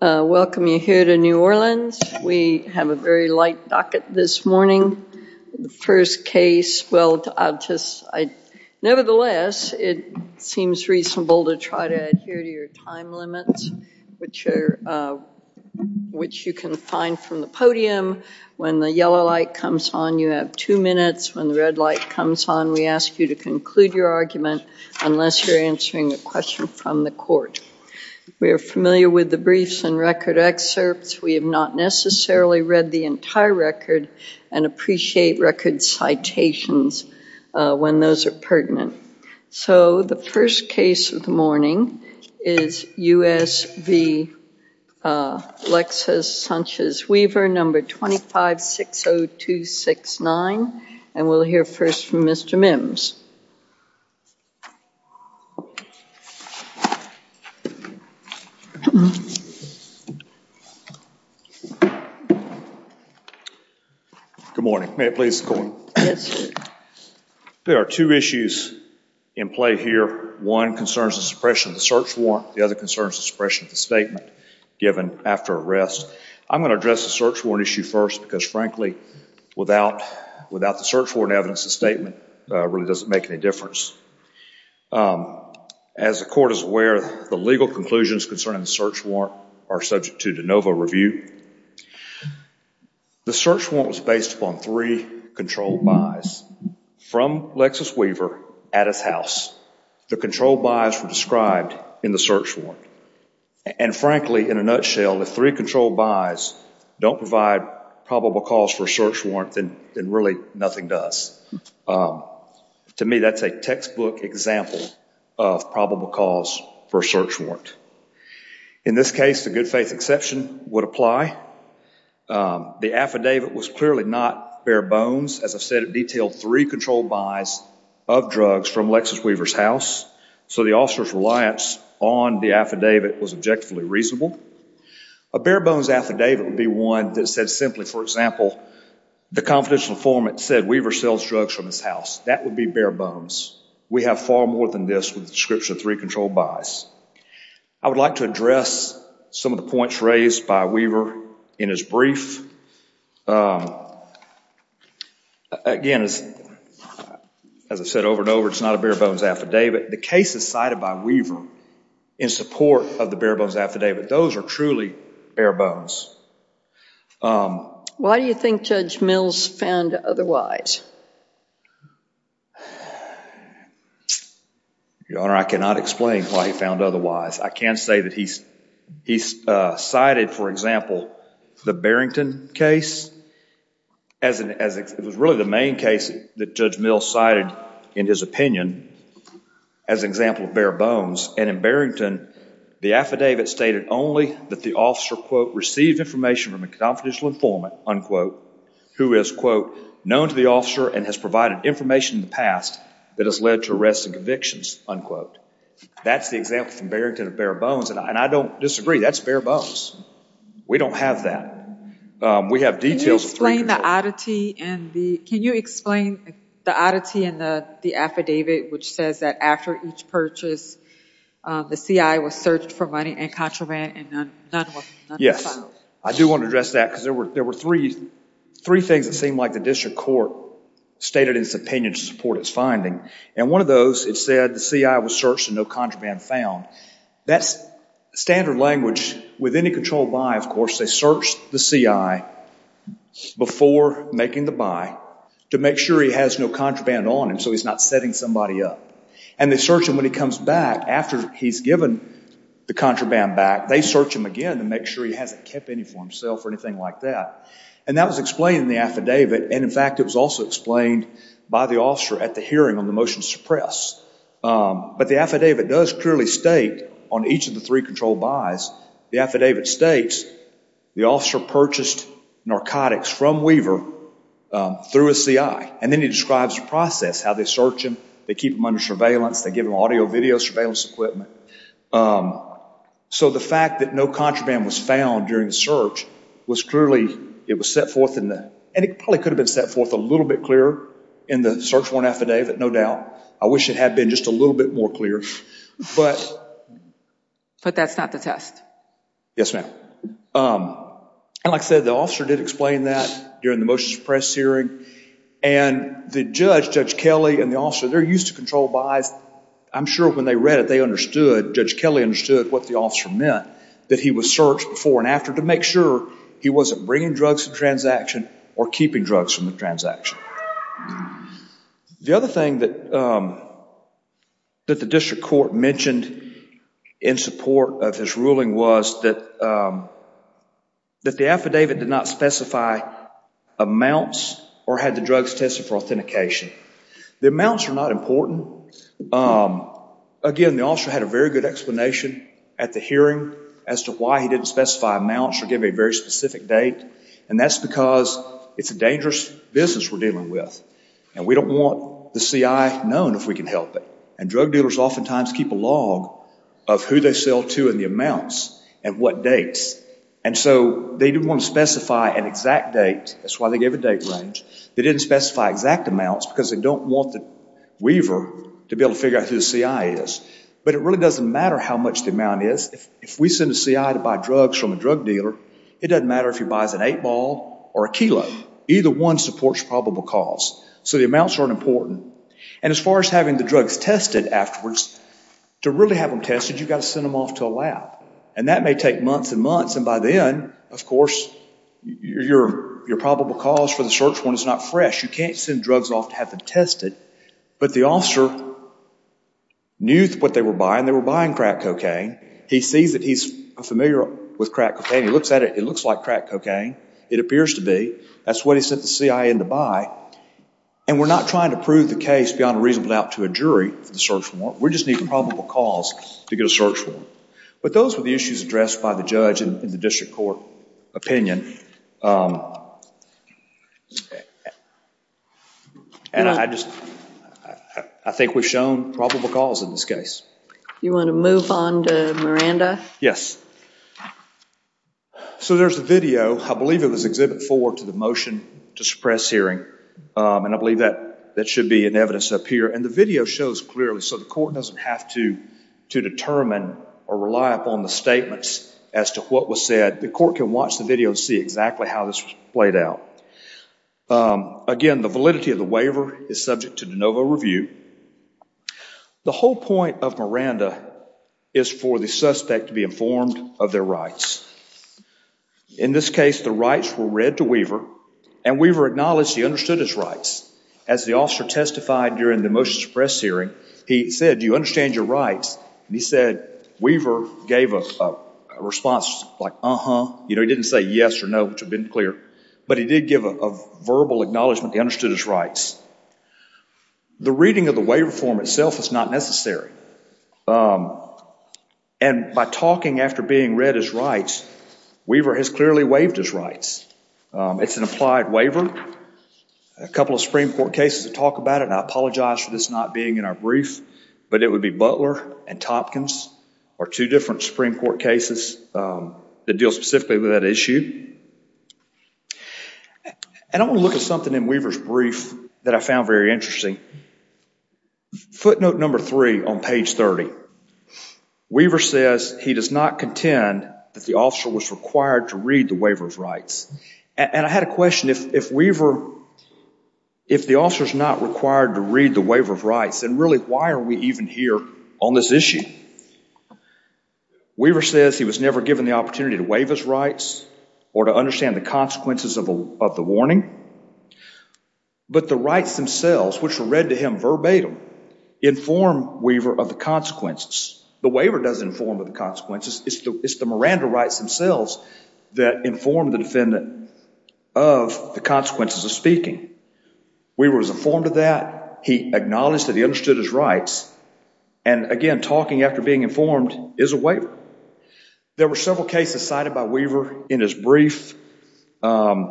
Welcome you here to New Orleans. We have a very light docket this morning. The first case, well, I'll just, I, nevertheless, it seems reasonable to try to adhere to your time limits, which are, which you can find from the podium. When the yellow light comes on, you have two minutes. When the red light comes on, we ask you to conclude your argument unless you're answering a question from the court. We are familiar with the briefs and record excerpts. We have not necessarily read the entire record and appreciate record citations when those are pertinent. So the first case of the morning is U.S. v. Lexus Sanchez Weaver, number 2560269, and we'll hear first from Mr. Mims. Good morning. May it please the court? Yes, sir. There are two issues in play here. One concerns the suppression of the search warrant. The other concerns the suppression of the statement given after arrest. I'm going to address the search warrant issue first because, frankly, without, without the search warrant evidence, the statement really doesn't make any difference. As the court is aware, the legal conclusions concerning the search warrant are subject to de novo review. The search warrant was based upon three controlled buys from Lexus Weaver at his house. The controlled buys were described in the search warrant, and, frankly, in a nutshell, if three controlled buys don't provide probable cause for a search warrant, then really nothing does. To me, that's a textbook example of probable cause for a search warrant. In this case, the good faith exception would apply. The affidavit was clearly not bare bones. As I've said, it detailed three controlled buys of drugs from Lexus Weaver's house, so the officer's reliance on the affidavit was objectively reasonable. A bare bones affidavit would be one that said simply, for example, the confidential informant said Weaver sells drugs from his house. That would be bare bones. We have far more than this with the description of three controlled buys. I would like to address some of the points raised by Weaver in his brief. Again, as I've said over and over, it's not a bare bones affidavit. The case is cited by Weaver in support of the bare bones affidavit. Those are truly bare bones. Why do you think Judge Mills found otherwise? Your Honor, I cannot explain why he found otherwise. I can say that he cited, for example, the Barrington case. It was really the main case that Judge Mills cited in his opinion as an example of bare bones. In Barrington, the affidavit stated only that the officer received information from a confidential informant who is known to the officer and has provided information in the past that has led to arrests and convictions. That's the example from Barrington of bare bones, and I don't disagree. That's bare bones. We don't have that. We have that after each purchase, the CI was searched for money and contraband, and none was found. Yes. I do want to address that because there were three things that seemed like the district court stated in its opinion to support its finding. One of those, it said the CI was searched and no contraband found. That's standard language with any controlled buy, of course. They search the CI before making the buy to make sure he has no contraband on him so he's not setting somebody up, and they search him when he comes back after he's given the contraband back. They search him again to make sure he hasn't kept any for himself or anything like that, and that was explained in the affidavit, and in fact, it was also explained by the officer at the hearing on the motion to suppress, but the affidavit does clearly state on each of the three controlled buys, the affidavit states the officer purchased narcotics from Weaver through a CI, and then he describes the process, how they search him, they keep him under surveillance, they give him audio video surveillance equipment. So the fact that no contraband was found during the search was clearly, it was set forth in the, and it probably could have been set forth a little bit clearer in the search warrant affidavit, no doubt. I wish it had been just a little bit more clear, but But that's not the test. Yes, ma'am. And like I said, the officer did explain that during the motion to suppress hearing, and the judge, Judge Kelly and the officer, they're used to control buys. I'm sure when they read it, they understood, Judge Kelly understood what the officer meant, that he was searched before and after to make sure he wasn't bringing drugs to the transaction or keeping drugs from the transaction. The other thing that the district court mentioned in support of his ruling was that the affidavit did not specify amounts or had the drugs tested for authentication. The amounts are not important. Again, the officer had a very good explanation at the hearing as to why he didn't specify amounts or give a very specific date, and that's because it's a dangerous business we're dealing with, and we don't want the CI known if we can help it. And drug dealers oftentimes keep a log of who they sell to and amounts and what dates. And so they didn't want to specify an exact date. That's why they gave a date range. They didn't specify exact amounts because they don't want the weaver to be able to figure out who the CI is. But it really doesn't matter how much the amount is. If we send a CI to buy drugs from a drug dealer, it doesn't matter if he buys an eight ball or a kilo. Either one supports probable cause. So the amounts aren't important. And as far as having the drugs tested afterwards, to really have them tested, you've got to send them off to a lab. And that may take months and months, and by then, of course, your probable cause for the search warrant is not fresh. You can't send drugs off to have them tested. But the officer knew what they were buying. They were buying crack cocaine. He sees that he's familiar with crack cocaine. He looks at it. It looks like crack cocaine. It appears to be. That's what he sent the CI in to buy. And we're not trying to beyond a reasonable doubt to a jury for the search warrant. We just need probable cause to get a search warrant. But those were the issues addressed by the judge in the district court opinion. And I think we've shown probable cause in this case. You want to move on to Miranda? Yes. So there's a video. I believe it was Exhibit 4 to the motion to suppress hearing. And I believe that should be in evidence up here. And the video shows clearly so the court doesn't have to determine or rely upon the statements as to what was said. The court can watch the video and see exactly how this was played out. Again, the validity of the waiver is subject to de novo review. The whole point of Miranda is for the suspect to be informed of their rights. In this the rights were read to Weaver. And Weaver acknowledged he understood his rights. As the officer testified during the motion to suppress hearing, he said, do you understand your rights? And he said, Weaver gave a response like, uh-huh. You know, he didn't say yes or no, which would have been clear. But he did give a verbal acknowledgement he understood his rights. The reading of the waiver form itself is not necessary. And by talking after being read his rights, Weaver has clearly waived his rights. It's an applied waiver. A couple of Supreme Court cases that talk about it, and I apologize for this not being in our brief, but it would be Butler and Topkins are two different Supreme Court cases that deal specifically with that issue. And I want to look at something in Weaver's brief that I found very interesting. Footnote number three on page 30. Weaver says he does not contend that the officer was required to read the waiver of rights. And I had a question. If Weaver, if the officer is not required to read the waiver of rights, then really why are we even here on this issue? Weaver says he was never given the opportunity to waive his rights or to understand the consequences of the warning. But the rights themselves, which were read to him verbatim, inform Weaver of the consequences. The waiver doesn't inform of the consequences. It's the Miranda rights themselves that inform the defendant of the consequences of speaking. Weaver was informed of that. He acknowledged that he understood his rights. And again, talking after being informed is a waiver. There were several cases cited by Weaver in his brief with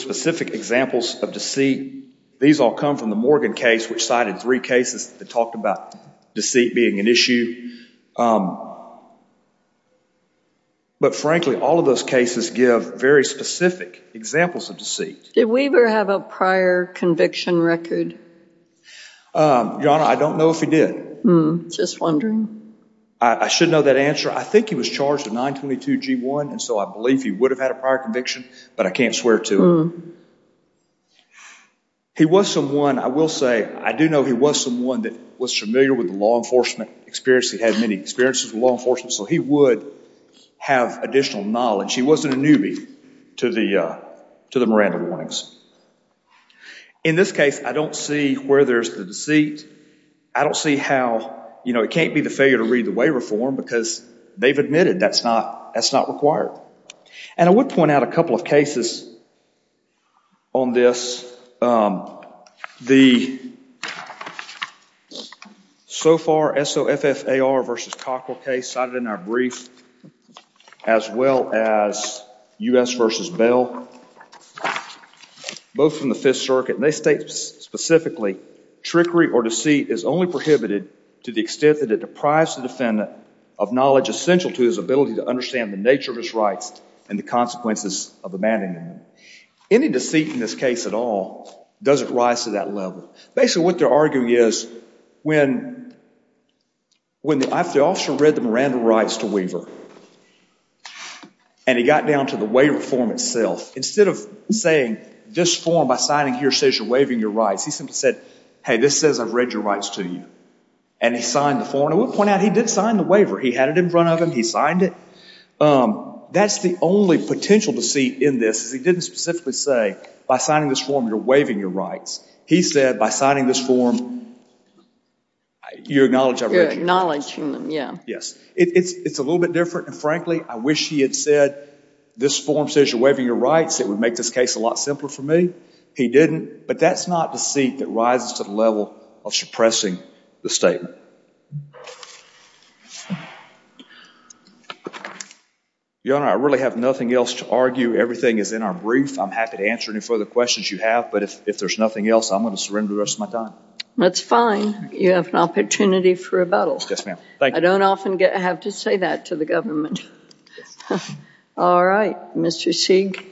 specific examples of deceit. These all come from the Morgan case, which cited three cases that talked about deceit being an issue. But frankly, all of those cases give very specific examples of deceit. Did Weaver have a prior conviction record? Your Honor, I don't know if he did. Just wondering. I should know that answer. I think he was charged with 922 G1, and so I believe he would have had a prior conviction, but I can't swear to it. He was someone, I will say, I do know he was someone that was familiar with the law enforcement experience. He had many experiences with law enforcement, so he would have additional knowledge. He wasn't a newbie to the Miranda warnings. In this case, I don't see where there's the deceit. I don't see how, you know, it can't be the failure to read the waiver form because they've admitted that's not required. And I would point out a couple of cases on this. So far, SOFFAR v. Cockrell case cited in our brief, as well as U.S. v. Bell, both from the Fifth Circuit, and they state specifically, trickery or deceit is only prohibited to the extent that it deprives the defendant of knowledge essential to his ability to understand the nature of his rights and the consequences of abandonment. Any deceit in this case at all doesn't rise to that level. Basically, what they're arguing is when the officer read the Miranda rights to Weaver and he got down to the waiver form itself, instead of saying this form by signing here says you're waiving your rights, he simply said, hey, this says I've read your rights to you. And he signed the form. I would point out he did sign the waiver. He had it in front of him. He signed it. That's the only potential deceit in this is he didn't specifically say by signing this form you're waiving your rights. He said by signing this form, you acknowledge I've read your rights. Yes. It's a little bit different. And frankly, I wish he had said this form says you're waiving your rights. It would make this case a lot simpler for me. He didn't. But that's not deceit that rises to the level of suppressing the statement. Your Honor, I really have nothing else to argue. Everything is in our brief. I'm happy to answer any further questions you have. But if there's nothing else, I'm going to surrender the rest of my time. That's fine. You have an opportunity for rebuttal. Yes, ma'am. I don't often get to have to say that to the government. All right. Mr. Sieg.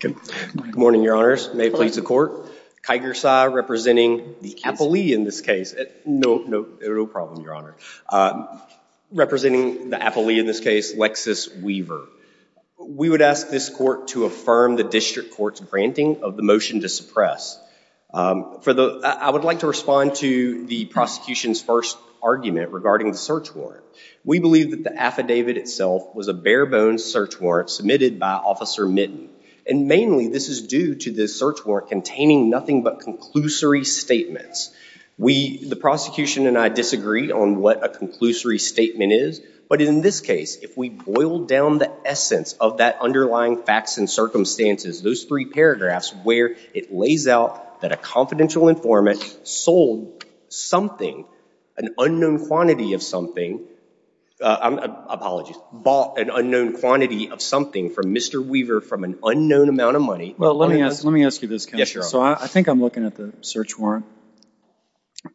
Good morning, Your Honors. May it please the Court. Kyger Sa representing the appellee in this case. No problem, Your Honor. Representing the appellee in this case, Lexis Weaver. We would ask this Court to affirm the district court's granting of the motion to suppress. I would like to respond to the prosecution's first argument regarding the search warrant. We believe that the affidavit itself was a bare-bones search warrant submitted by Officer Mitton. And mainly, this is due to the search warrant containing nothing but conclusory statements. The prosecution and I disagree on what a conclusory statement is. But in this case, if we boil down the essence of that underlying facts and circumstances, those three paragraphs, where it lays out that a confidential informant sold something, an unknown quantity of something. Apologies. Bought an unknown quantity of something from Mr. Weaver from an unknown amount of money. Well, let me ask you this, counsel. Yes, Your Honor. So I think I'm looking at the search warrant.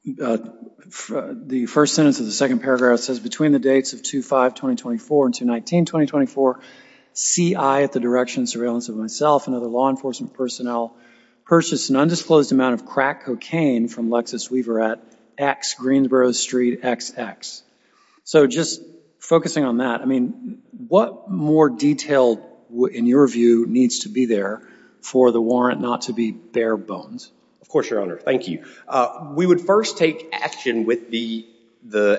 The first sentence of the second paragraph says, between the dates of 2-5-2024 and 2-19-2024, CI at the direction of surveillance of myself and other law enforcement personnel purchased an undisclosed amount of crack cocaine from Lexis Weaver at X Greensboro Street XX. So just focusing on that, I mean, what more detail, in your view, needs to be there for the warrant not to be bare bones? Of course, Your Honor. Thank you. We would first take action with the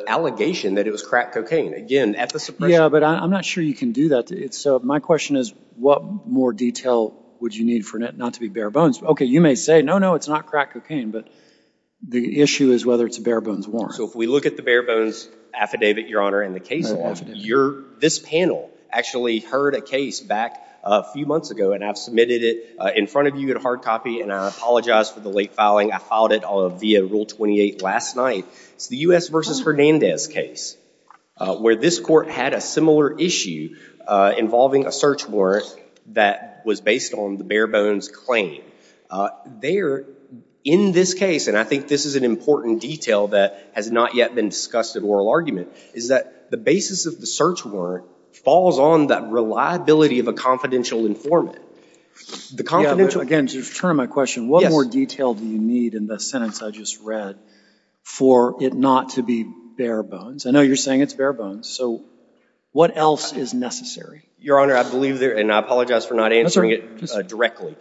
allegation that it was crack cocaine. Again, at the suppression. Yeah, but I'm not sure you can do that. My question is, what more detail would you need for it not to be bare bones? Okay, you may say, no, no, it's not crack cocaine. But the issue is whether it's a bare bones warrant. So if we look at the bare bones affidavit, Your Honor, and the case law, this panel actually heard a case back a few months ago, and I've submitted it in front of you in hard copy, and I apologize for the late filing. I filed it via Rule 28 last night. It's the U.S. v. Hernandez case, where this court had a similar issue involving a search warrant that was based on the bare bones claim. There, in this case, and I think this is an important detail that has not yet been discussed in oral argument, is that the basis of the search warrant falls on that reliability of a confidential informant. Yeah, but again, to return to my question, what more detail do you need in the sentence I just read for it not to be bare bones? I know you're saying it's bare bones. So what else is necessary? Your Honor, I believe there, and I apologize for not answering it directly.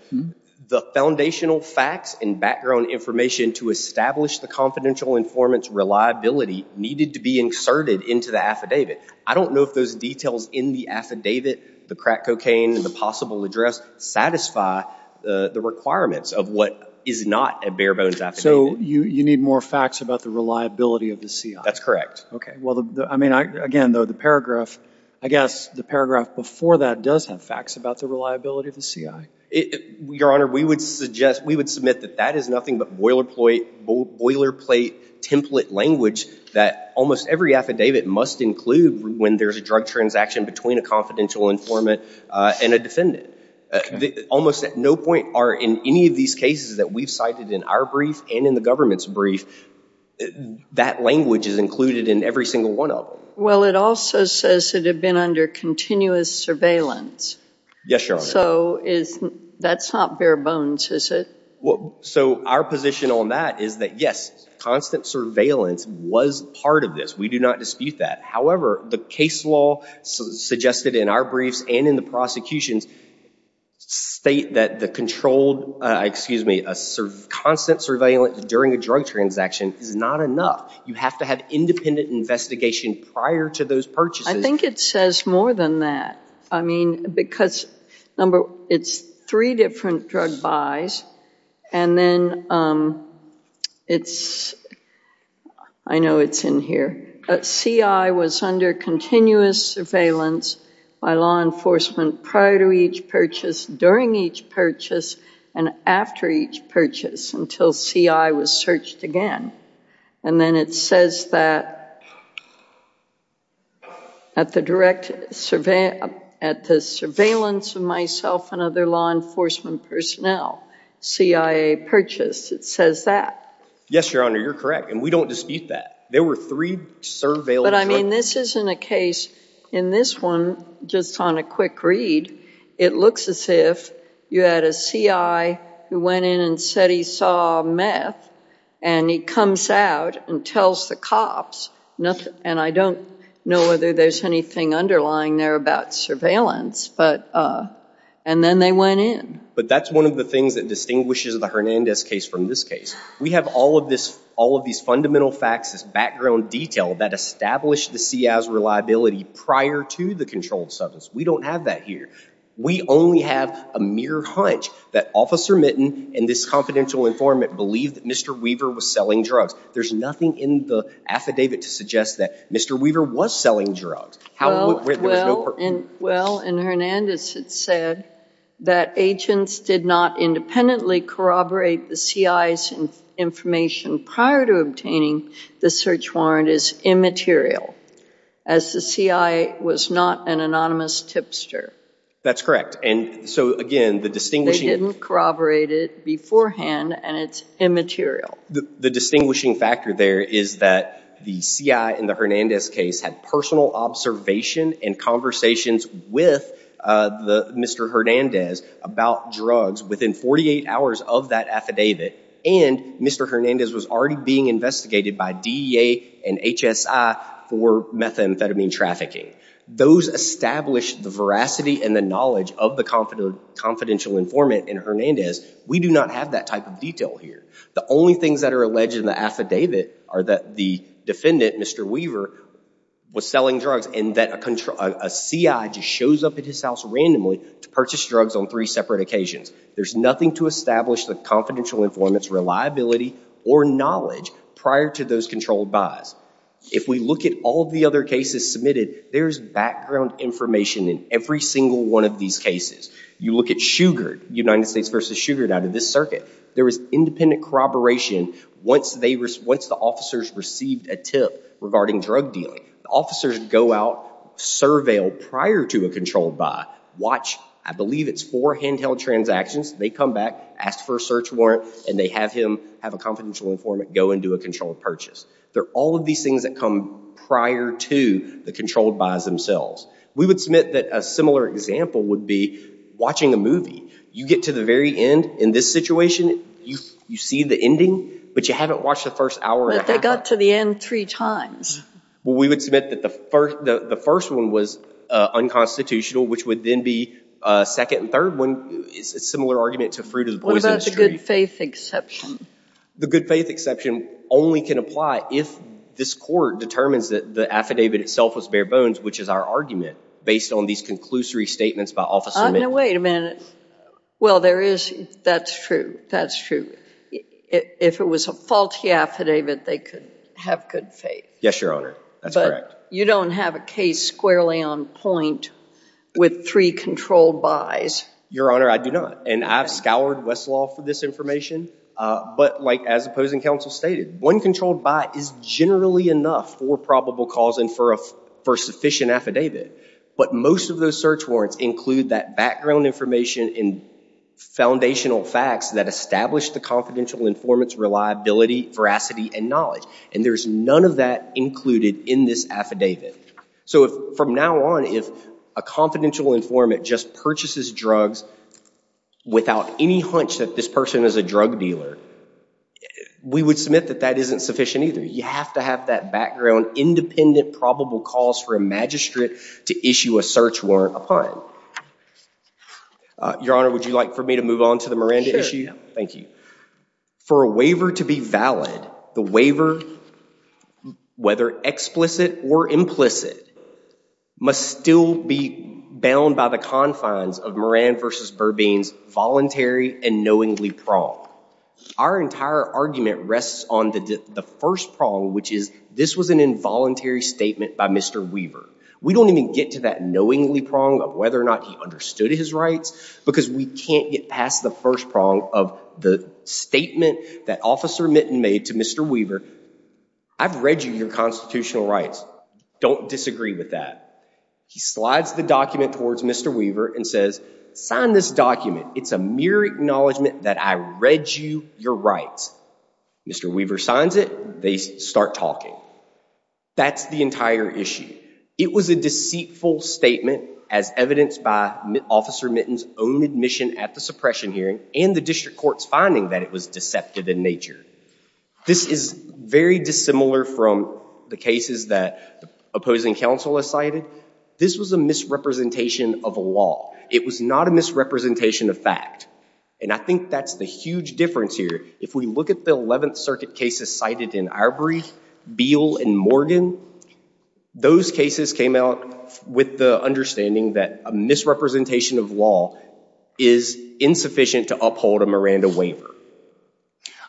The foundational facts and background information to establish the confidential informant's reliability needed to be inserted into the affidavit. I don't know if those details in the affidavit, the crack cocaine and the possible address, satisfy the requirements of what is not a bare bones affidavit. So you need more facts about the reliability of the CI? That's correct. Okay. Well, I mean, again, though, the paragraph, I guess the paragraph before that does have facts about the reliability of the CI. Your Honor, we would suggest, we would submit that that is nothing but boilerplate template language that almost every affidavit must include when there's a drug transaction between a confidential informant and a defendant. Almost at no point are in any of these cases that we've cited in our brief and in the government's brief, that language is included in every single one of them. Well, it also says it had been under continuous surveillance. Yes, Your Honor. So that's not bare bones, is it? So our position on that is that yes, constant surveillance was part of this. We do not dispute that. However, the case law suggested in our briefs and in the prosecutions state that the controlled, excuse me, a constant surveillance during a drug transaction is not enough. You have to have independent investigation prior to those purchases. I think it says more than that. I mean, because, number, it's three different drug buys and then it's, I know it's in here, but CI was under continuous surveillance by law enforcement prior to each purchase, during each purchase, and after each purchase until CI was searched again. And then it says that at the direct, at the surveillance of myself and other law enforcement personnel, CI purchased. It says that. Yes, Your Honor, you're correct, and we don't dispute that. There were three surveillance. But I mean, this isn't a case, in this one, just on a quick read, it looks as if you had a CI who went in and said he saw meth and he comes out and tells the cops nothing, and I don't know whether there's anything underlying there about surveillance, but, and then they went in. But that's one of the things that distinguishes the Hernandez case from this case. We have all of this, all of these fundamental facts, this background detail that established the CI's reliability prior to the controlled substance. We don't have that here. We only have a mere hunch that Officer Mitten and this confidential informant believed that Mr. Weaver was selling drugs. There's nothing in the affidavit to suggest that Mr. Weaver was selling drugs. Well, in Hernandez it said that agents did not independently corroborate the CI's information prior to obtaining the search warrant as immaterial, as the CI was not an anonymous tipster. That's correct. And so, again, the distinguishing... They didn't corroborate it beforehand and it's immaterial. The distinguishing factor there is that the CI in the Hernandez case had personal observation and conversations with Mr. Hernandez about drugs within 48 hours of that affidavit and Mr. Hernandez was already being investigated by DEA and HSI for methamphetamine trafficking. Those established the veracity and the knowledge of the confidential informant in Hernandez. We do not have that type of detail here. The only things that are alleged in the affidavit are that the defendant, Mr. Weaver, was selling drugs and that a CI just shows up at his house randomly to purchase drugs on three separate occasions. There's nothing to establish the confidential informant's reliability or knowledge prior to those controlled buys. If we look at all of the other cases submitted, there's background information in every single one of these cases. You look at Shugard, United States v. Shugard out of this circuit. There was independent corroboration once the officers received a tip regarding drug dealing. Officers go out, surveil prior to a controlled buy, watch, I believe it's four handheld transactions, they come back, ask for a search warrant, and they have him, have a confidential informant go and do a controlled purchase. They're all of these things that come prior to the controlled buys themselves. We would submit that a similar example would be watching a movie. You get to the very end in this situation, you see the ending, but you haven't watched the first hour. But they got to the end three times. Well, we would submit that the first one was unconstitutional, which would then be second and third. It's a similar argument to Fruit of the Poison Street. What about the good faith exception? The good faith exception only can apply if this court determines that the affidavit itself was bare bones, which is our argument based on these conclusory statements by officers. Wait a minute. Well, there is, that's true, that's true. If it was a faulty affidavit, they could have good faith. Yes, Your Honor, that's correct. But you don't have a case squarely on point with three controlled buys. Your Honor, I do not. And I've scoured Westlaw for this information. But like, as opposing counsel stated, one controlled buy is generally enough for probable cause and for a, for a sufficient affidavit. But most of those search warrants include that background information and foundational facts that establish the confidential informant's reliability, veracity, and knowledge. And there's none of that included in this affidavit. So if, from now on, if a confidential informant just purchases drugs without any hunch that this person is a drug dealer, we would submit that that isn't sufficient either. You have to have that background independent probable cause for a magistrate to issue a search warrant upon. Your Honor, would you like for me to move on to the Miranda issue? Sure. Thank you. For a waiver to be valid, the waiver, whether explicit or implicit, must still be bound by the confines of Moran v. Burbine's voluntary and knowingly prong. Our entire argument rests on the first prong, which is this was an involuntary statement by Mr. Weaver. We don't even get to that knowingly prong of whether or not he understood his rights because we can't get past the first prong of the statement that Officer Mitten made to Mr. Weaver, I've read you your constitutional rights. Don't disagree with that. He slides the document towards Mr. Weaver and says, sign this document. It's a mere acknowledgment that I read you your rights. Mr. Weaver signs it. They start talking. That's the entire issue. It was a deceitful statement as evidenced by Officer Mitten's own admission at the suppression hearing and the district court's finding that it was deceptive in nature. This is very dissimilar from the cases that opposing counsel has cited. This was a misrepresentation of a law. It was not a misrepresentation of fact. And I think that's the huge difference here. If we look at the 11th that a misrepresentation of law is insufficient to uphold a Miranda waiver.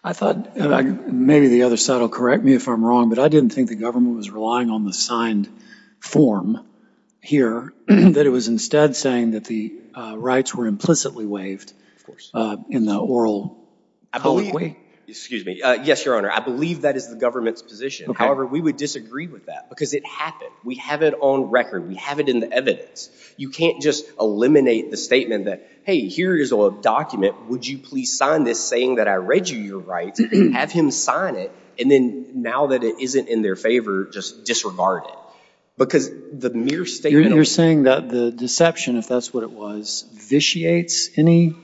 I thought, maybe the other side will correct me if I'm wrong, but I didn't think the government was relying on the signed form here. That it was instead saying that the rights were implicitly waived in the oral colloquy. I believe, excuse me. Yes, Your Honor. I believe that is the government's position. However, we would disagree with that because it happened. We have it on record. We have it in the evidence. You can't just eliminate the statement that, hey, here is a document. Would you please sign this saying that I read you your rights? Have him sign it. And then now that it isn't in their favor, just disregard it. Because the mere statement... You're saying that the deception, if that's what it was, vitiates any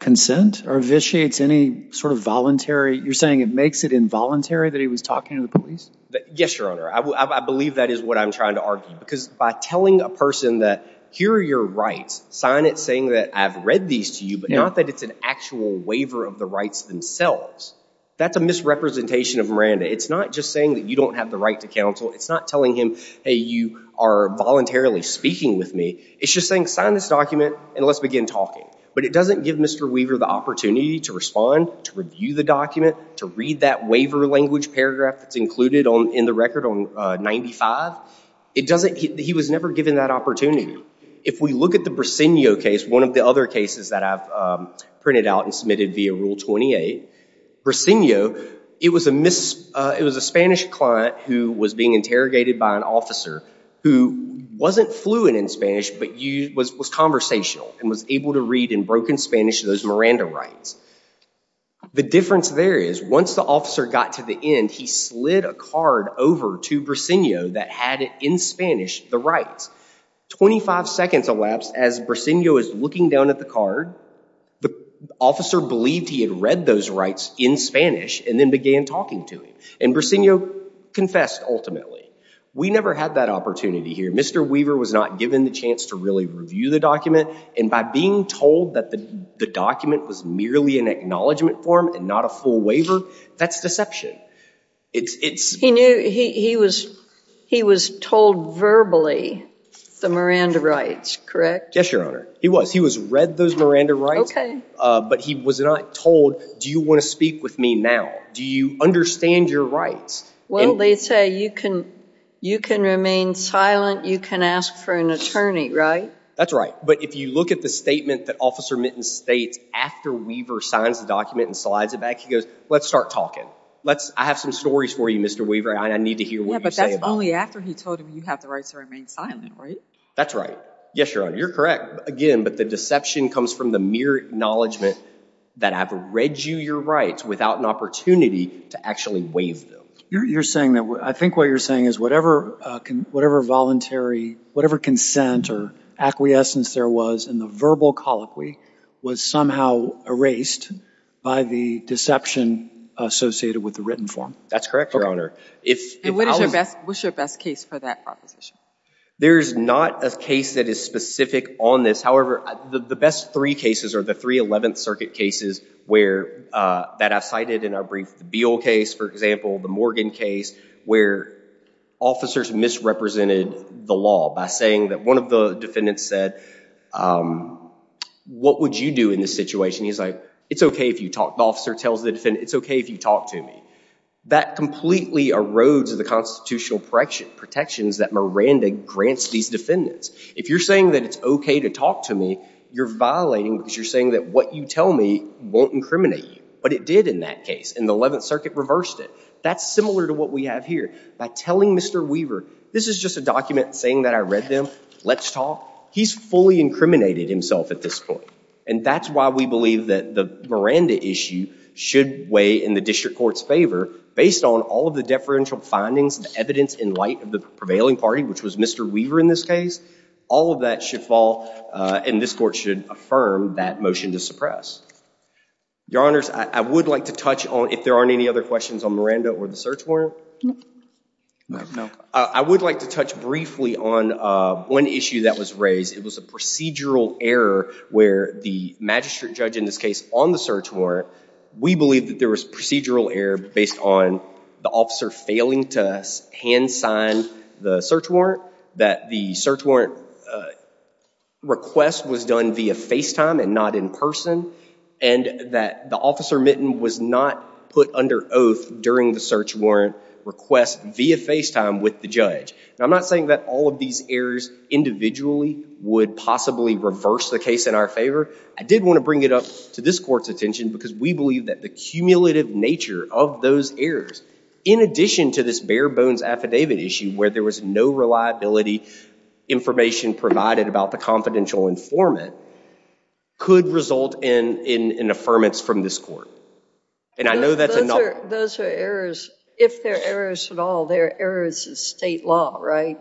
consent or vitiates any sort of voluntary... You're saying it makes it involuntary that he was talking to the police? Yes, Your Honor. I believe that is what I'm trying to argue. Because by telling a person that, here are your rights. Sign it saying that I've read these to you, but not that it's an actual waiver of the rights themselves. That's a misrepresentation of Miranda. It's not just saying that you don't have the right to counsel. It's not telling him, hey, you are voluntarily speaking with me. It's just saying, sign this document and let's begin talking. But it doesn't give Mr. Weaver the opportunity to respond, to review the document, to read that waiver language paragraph that's included in the record on 95. He was never given that opportunity. If we look at the Brasenio case, one of the other cases that I've printed out and submitted via Rule 28, Brasenio, it was a Spanish client who was being interrogated by an officer who wasn't fluent in Spanish, but was conversational and was able to read in broken Spanish those Miranda rights. The difference there is once the officer got to the end, he slid a card over to Brasenio that had in Spanish the rights. 25 seconds elapsed as Brasenio was looking down at the card. The officer believed he had read those rights in Spanish and then began talking to him. And Brasenio confessed ultimately. We never had that opportunity here. Mr. Weaver was not given the really review the document. And by being told that the document was merely an acknowledgement form and not a full waiver, that's deception. He was told verbally the Miranda rights, correct? Yes, Your Honor. He was. He was read those Miranda rights, but he was not told, do you want to speak with me now? Do you understand your rights? Well, they say you can remain silent, you can ask for an attorney, right? That's right. But if you look at the statement that Officer Minton states after Weaver signs the document and slides it back, he goes, let's start talking. Let's, I have some stories for you, Mr. Weaver, and I need to hear what you say. Yeah, but that's only after he told him you have the rights to remain silent, right? That's right. Yes, Your Honor, you're correct again, but the deception comes from the mere acknowledgement that I've read you your rights without an opportunity to actually waive them. You're saying that, I think what you're saying is whatever voluntary, whatever consent or acquiescence there was in the verbal colloquy was somehow erased by the deception associated with the written form. That's correct, Your Honor. And what is your best, what's your best case for that proposition? There's not a case that is specific on this. However, the best three cases are the 311th Circuit cases where, that I cited in our brief, the Beal case, for example, the Morgan case where officers misrepresented the law by saying that one of the defendants said, what would you do in this situation? He's like, it's okay if you talk, the officer tells the defendant, it's okay if you talk to me. That completely erodes the constitutional protections that Miranda grants these defendants. If you're saying that it's okay to talk to me, you're violating because you're saying that what you tell me won't incriminate you. But it did in that case, and the 11th Circuit reversed it. That's similar to what we have here. By telling Mr. Weaver, this is just a document saying that I read them, let's talk, he's fully incriminated himself at this point. And that's why we believe that the Miranda issue should weigh in the district court's favor based on all of the deferential findings, the evidence in light of the prevailing party, which was Mr. Weaver in this case. All of that should fall, and this court should affirm that motion to suppress. Your Honors, I would like to touch on, if there aren't any other questions on Miranda or the search warrant. I would like to touch briefly on one issue that was raised. It was a procedural error where the magistrate judge in this case on the search warrant, we believe that there was procedural error based on the officer failing to hand sign the search warrant, that the search warrant request was done via FaceTime and not in person, and that the officer mitten was not put under oath during the search warrant request via FaceTime with the judge. I'm not saying that all of these errors individually would possibly reverse the case in our favor. I did want to bring it up to this court's attention because we believe that the cumulative nature of those errors, in addition to this bare bones affidavit issue where there was no reliability information provided about the confidential informant, could result in an affirmance from this court. Those are errors. If they're errors at all, they're errors in state law, right?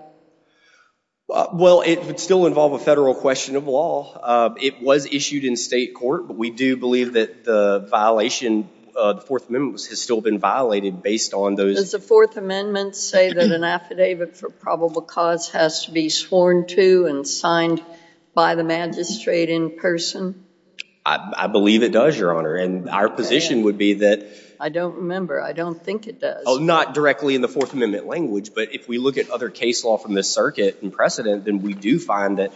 Well, it would still involve a federal question of law. It was issued in state court, but we do believe that the violation of the Fourth Amendment has still been violated based on those... Does the Fourth Amendment say that an affidavit for probable cause has to be sworn to and signed by the magistrate in person? I believe it does, Your Honor, and our position would be that... I don't remember. I don't think it does. Oh, not directly in the Fourth Amendment language, but if we look at other case law from this circuit in precedent, then we do find that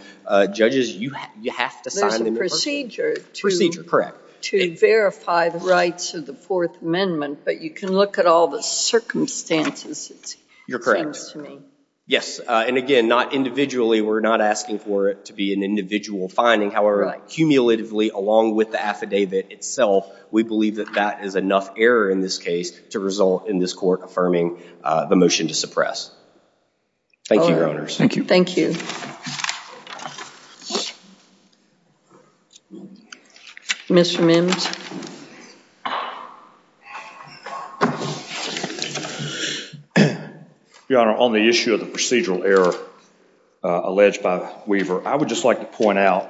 judges, you have to sign them in person. There's a procedure to verify the rights of the Fourth Amendment, but you can look at all the circumstances, it seems to me. Yes, and again, not individually. We're not asking for it to be an individual finding. However, cumulatively, along with the affidavit itself, we believe that that is enough error in this case to result in this court affirming the motion to suppress. Thank you, Your Honors. Thank you. Thank you. Mr. Mims. Your Honor, on the issue of the procedural error alleged by the weaver, I would just like to point out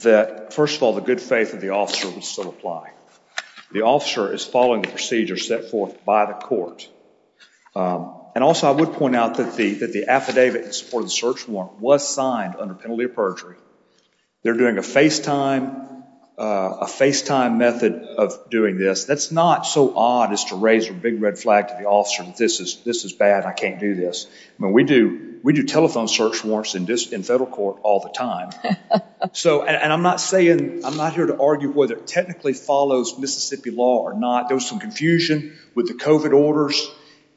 that, first of all, the good faith of the officer would still apply. The officer is following the procedure set forth by the court. Also, I would point out that the affidavit in support of the search warrant was signed under penalty of perjury. They're doing a FaceTime method of doing this. That's not so odd as to raise a big red flag to the officer, this is bad, I can't do this. We do telephone search warrants in federal court all the time. I'm not here to argue whether it technically follows Mississippi law or not. There was some confusion with the COVID orders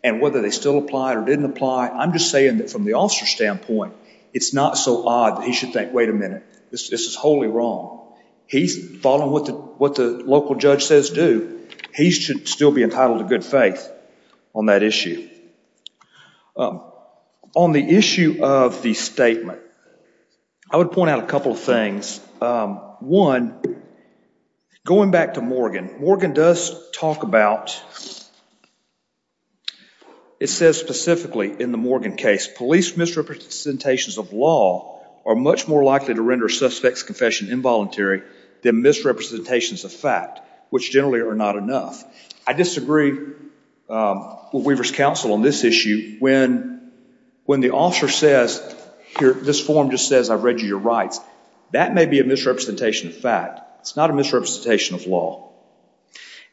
and whether they still apply or didn't apply. I'm just saying that from the officer's standpoint, it's not so odd that he should think, wait a minute, this is wholly wrong. He's following what the local judge says do, he should still be entitled to good faith on that issue. On the issue of the statement, I would point out a couple of things. One, going back to Morgan, Morgan does talk about, it says specifically in the Morgan case, police misrepresentations of law are much more likely to render a suspect's confession involuntary than misrepresentations of fact, which generally are not enough. I disagree with Weaver's counsel on this issue when the officer says, this form just says, I've read your rights. That may be a misrepresentation of fact. It's not a misrepresentation of law.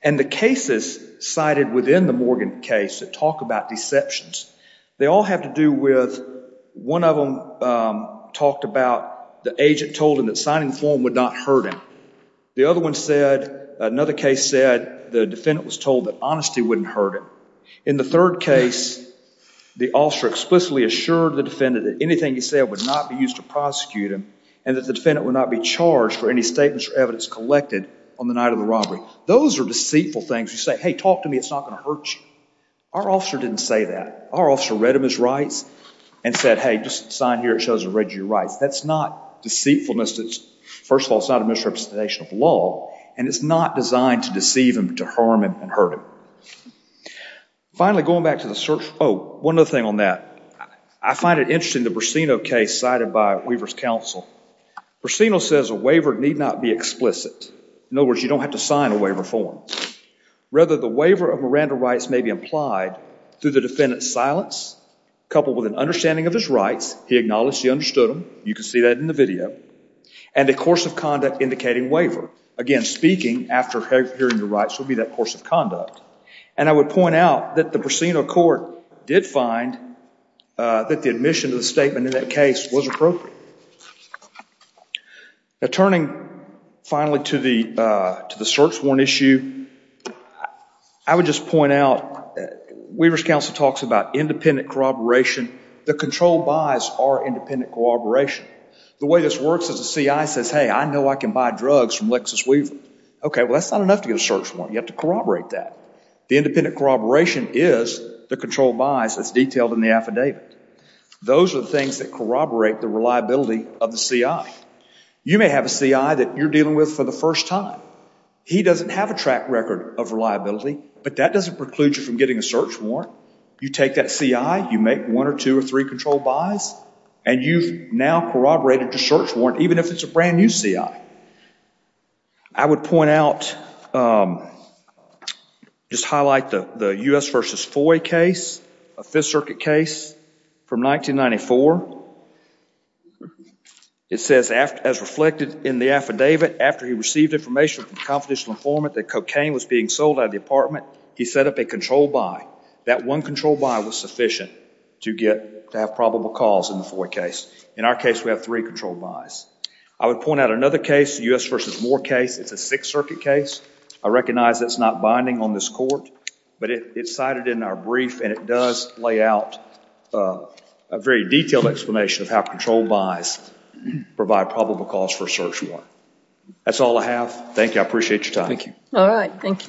The cases cited within the Morgan case that talk about deceptions, they all have to do with one of them talked about the agent told him that signing the form would not hurt him. The other one said, another case said, the defendant was told that honesty wouldn't hurt him. In the third case, the officer explicitly assured the defendant that anything he said would not be used to prosecute him and that the defendant would not be charged for any statements or evidence collected on the night of the robbery. Those are deceitful things. You say, hey, talk to me. It's not going to hurt you. Our officer didn't say that. Our officer read him his rights and said, hey, just sign here. It shows I've read your rights. That's not deceitfulness. First of all, it's not a misrepresentation of law, and it's not designed to deceive him, to harm him, and hurt him. Finally, going back to the search. Oh, one other thing on that. I find it interesting, the Brasino case cited by Weaver's counsel. Brasino says a waiver need not be explicit. In other words, you don't have to sign a waiver form. Rather, the waiver of Miranda rights may be implied through the defendant's silence, coupled with an understanding of his rights. He acknowledged he understood them. You can see that in the video. And a course of conduct indicating waiver. Again, speaking after hearing the rights would be that course of conduct. And I would point out that the Brasino court did find that the admission of the statement in that case was appropriate. Now, turning finally to the search warrant issue, I would just point out that Weaver's counsel talks about independent corroboration. The control buys are independent corroboration. The way this works is the CI says, hey, I know I can buy drugs from Lexis Weaver. OK, well, that's not enough to get a search warrant. You have to corroborate that. The independent corroboration is the control buys as detailed in the affidavit. Those are the things that corroborate the reliability of the CI. You may have a CI that you're dealing with for the first time. He doesn't have a track record of reliability, but that doesn't preclude you from getting a search warrant. You take that CI, you make one or two or three control buys, and you've now corroborated your search warrant, even if it's a brand new CI. I would point out, just highlight the U.S. versus FOIA case, a Fifth Circuit case from 1994. It says, as reflected in the affidavit, after he received information from the confidential informant that cocaine was being sold out of the apartment, he set up a control buy. That one control buy was sufficient to have probable cause in the FOIA case. In our case, we have three control buys. I would point out another case, U.S. versus Moore case. It's a Sixth Circuit case. I recognize it's not binding on this court, but it's cited in our brief, and it does lay out a very detailed explanation of how control buys provide probable cause for a search warrant. That's all I have. Thank you. I appreciate your time. All right. Thank you, sir.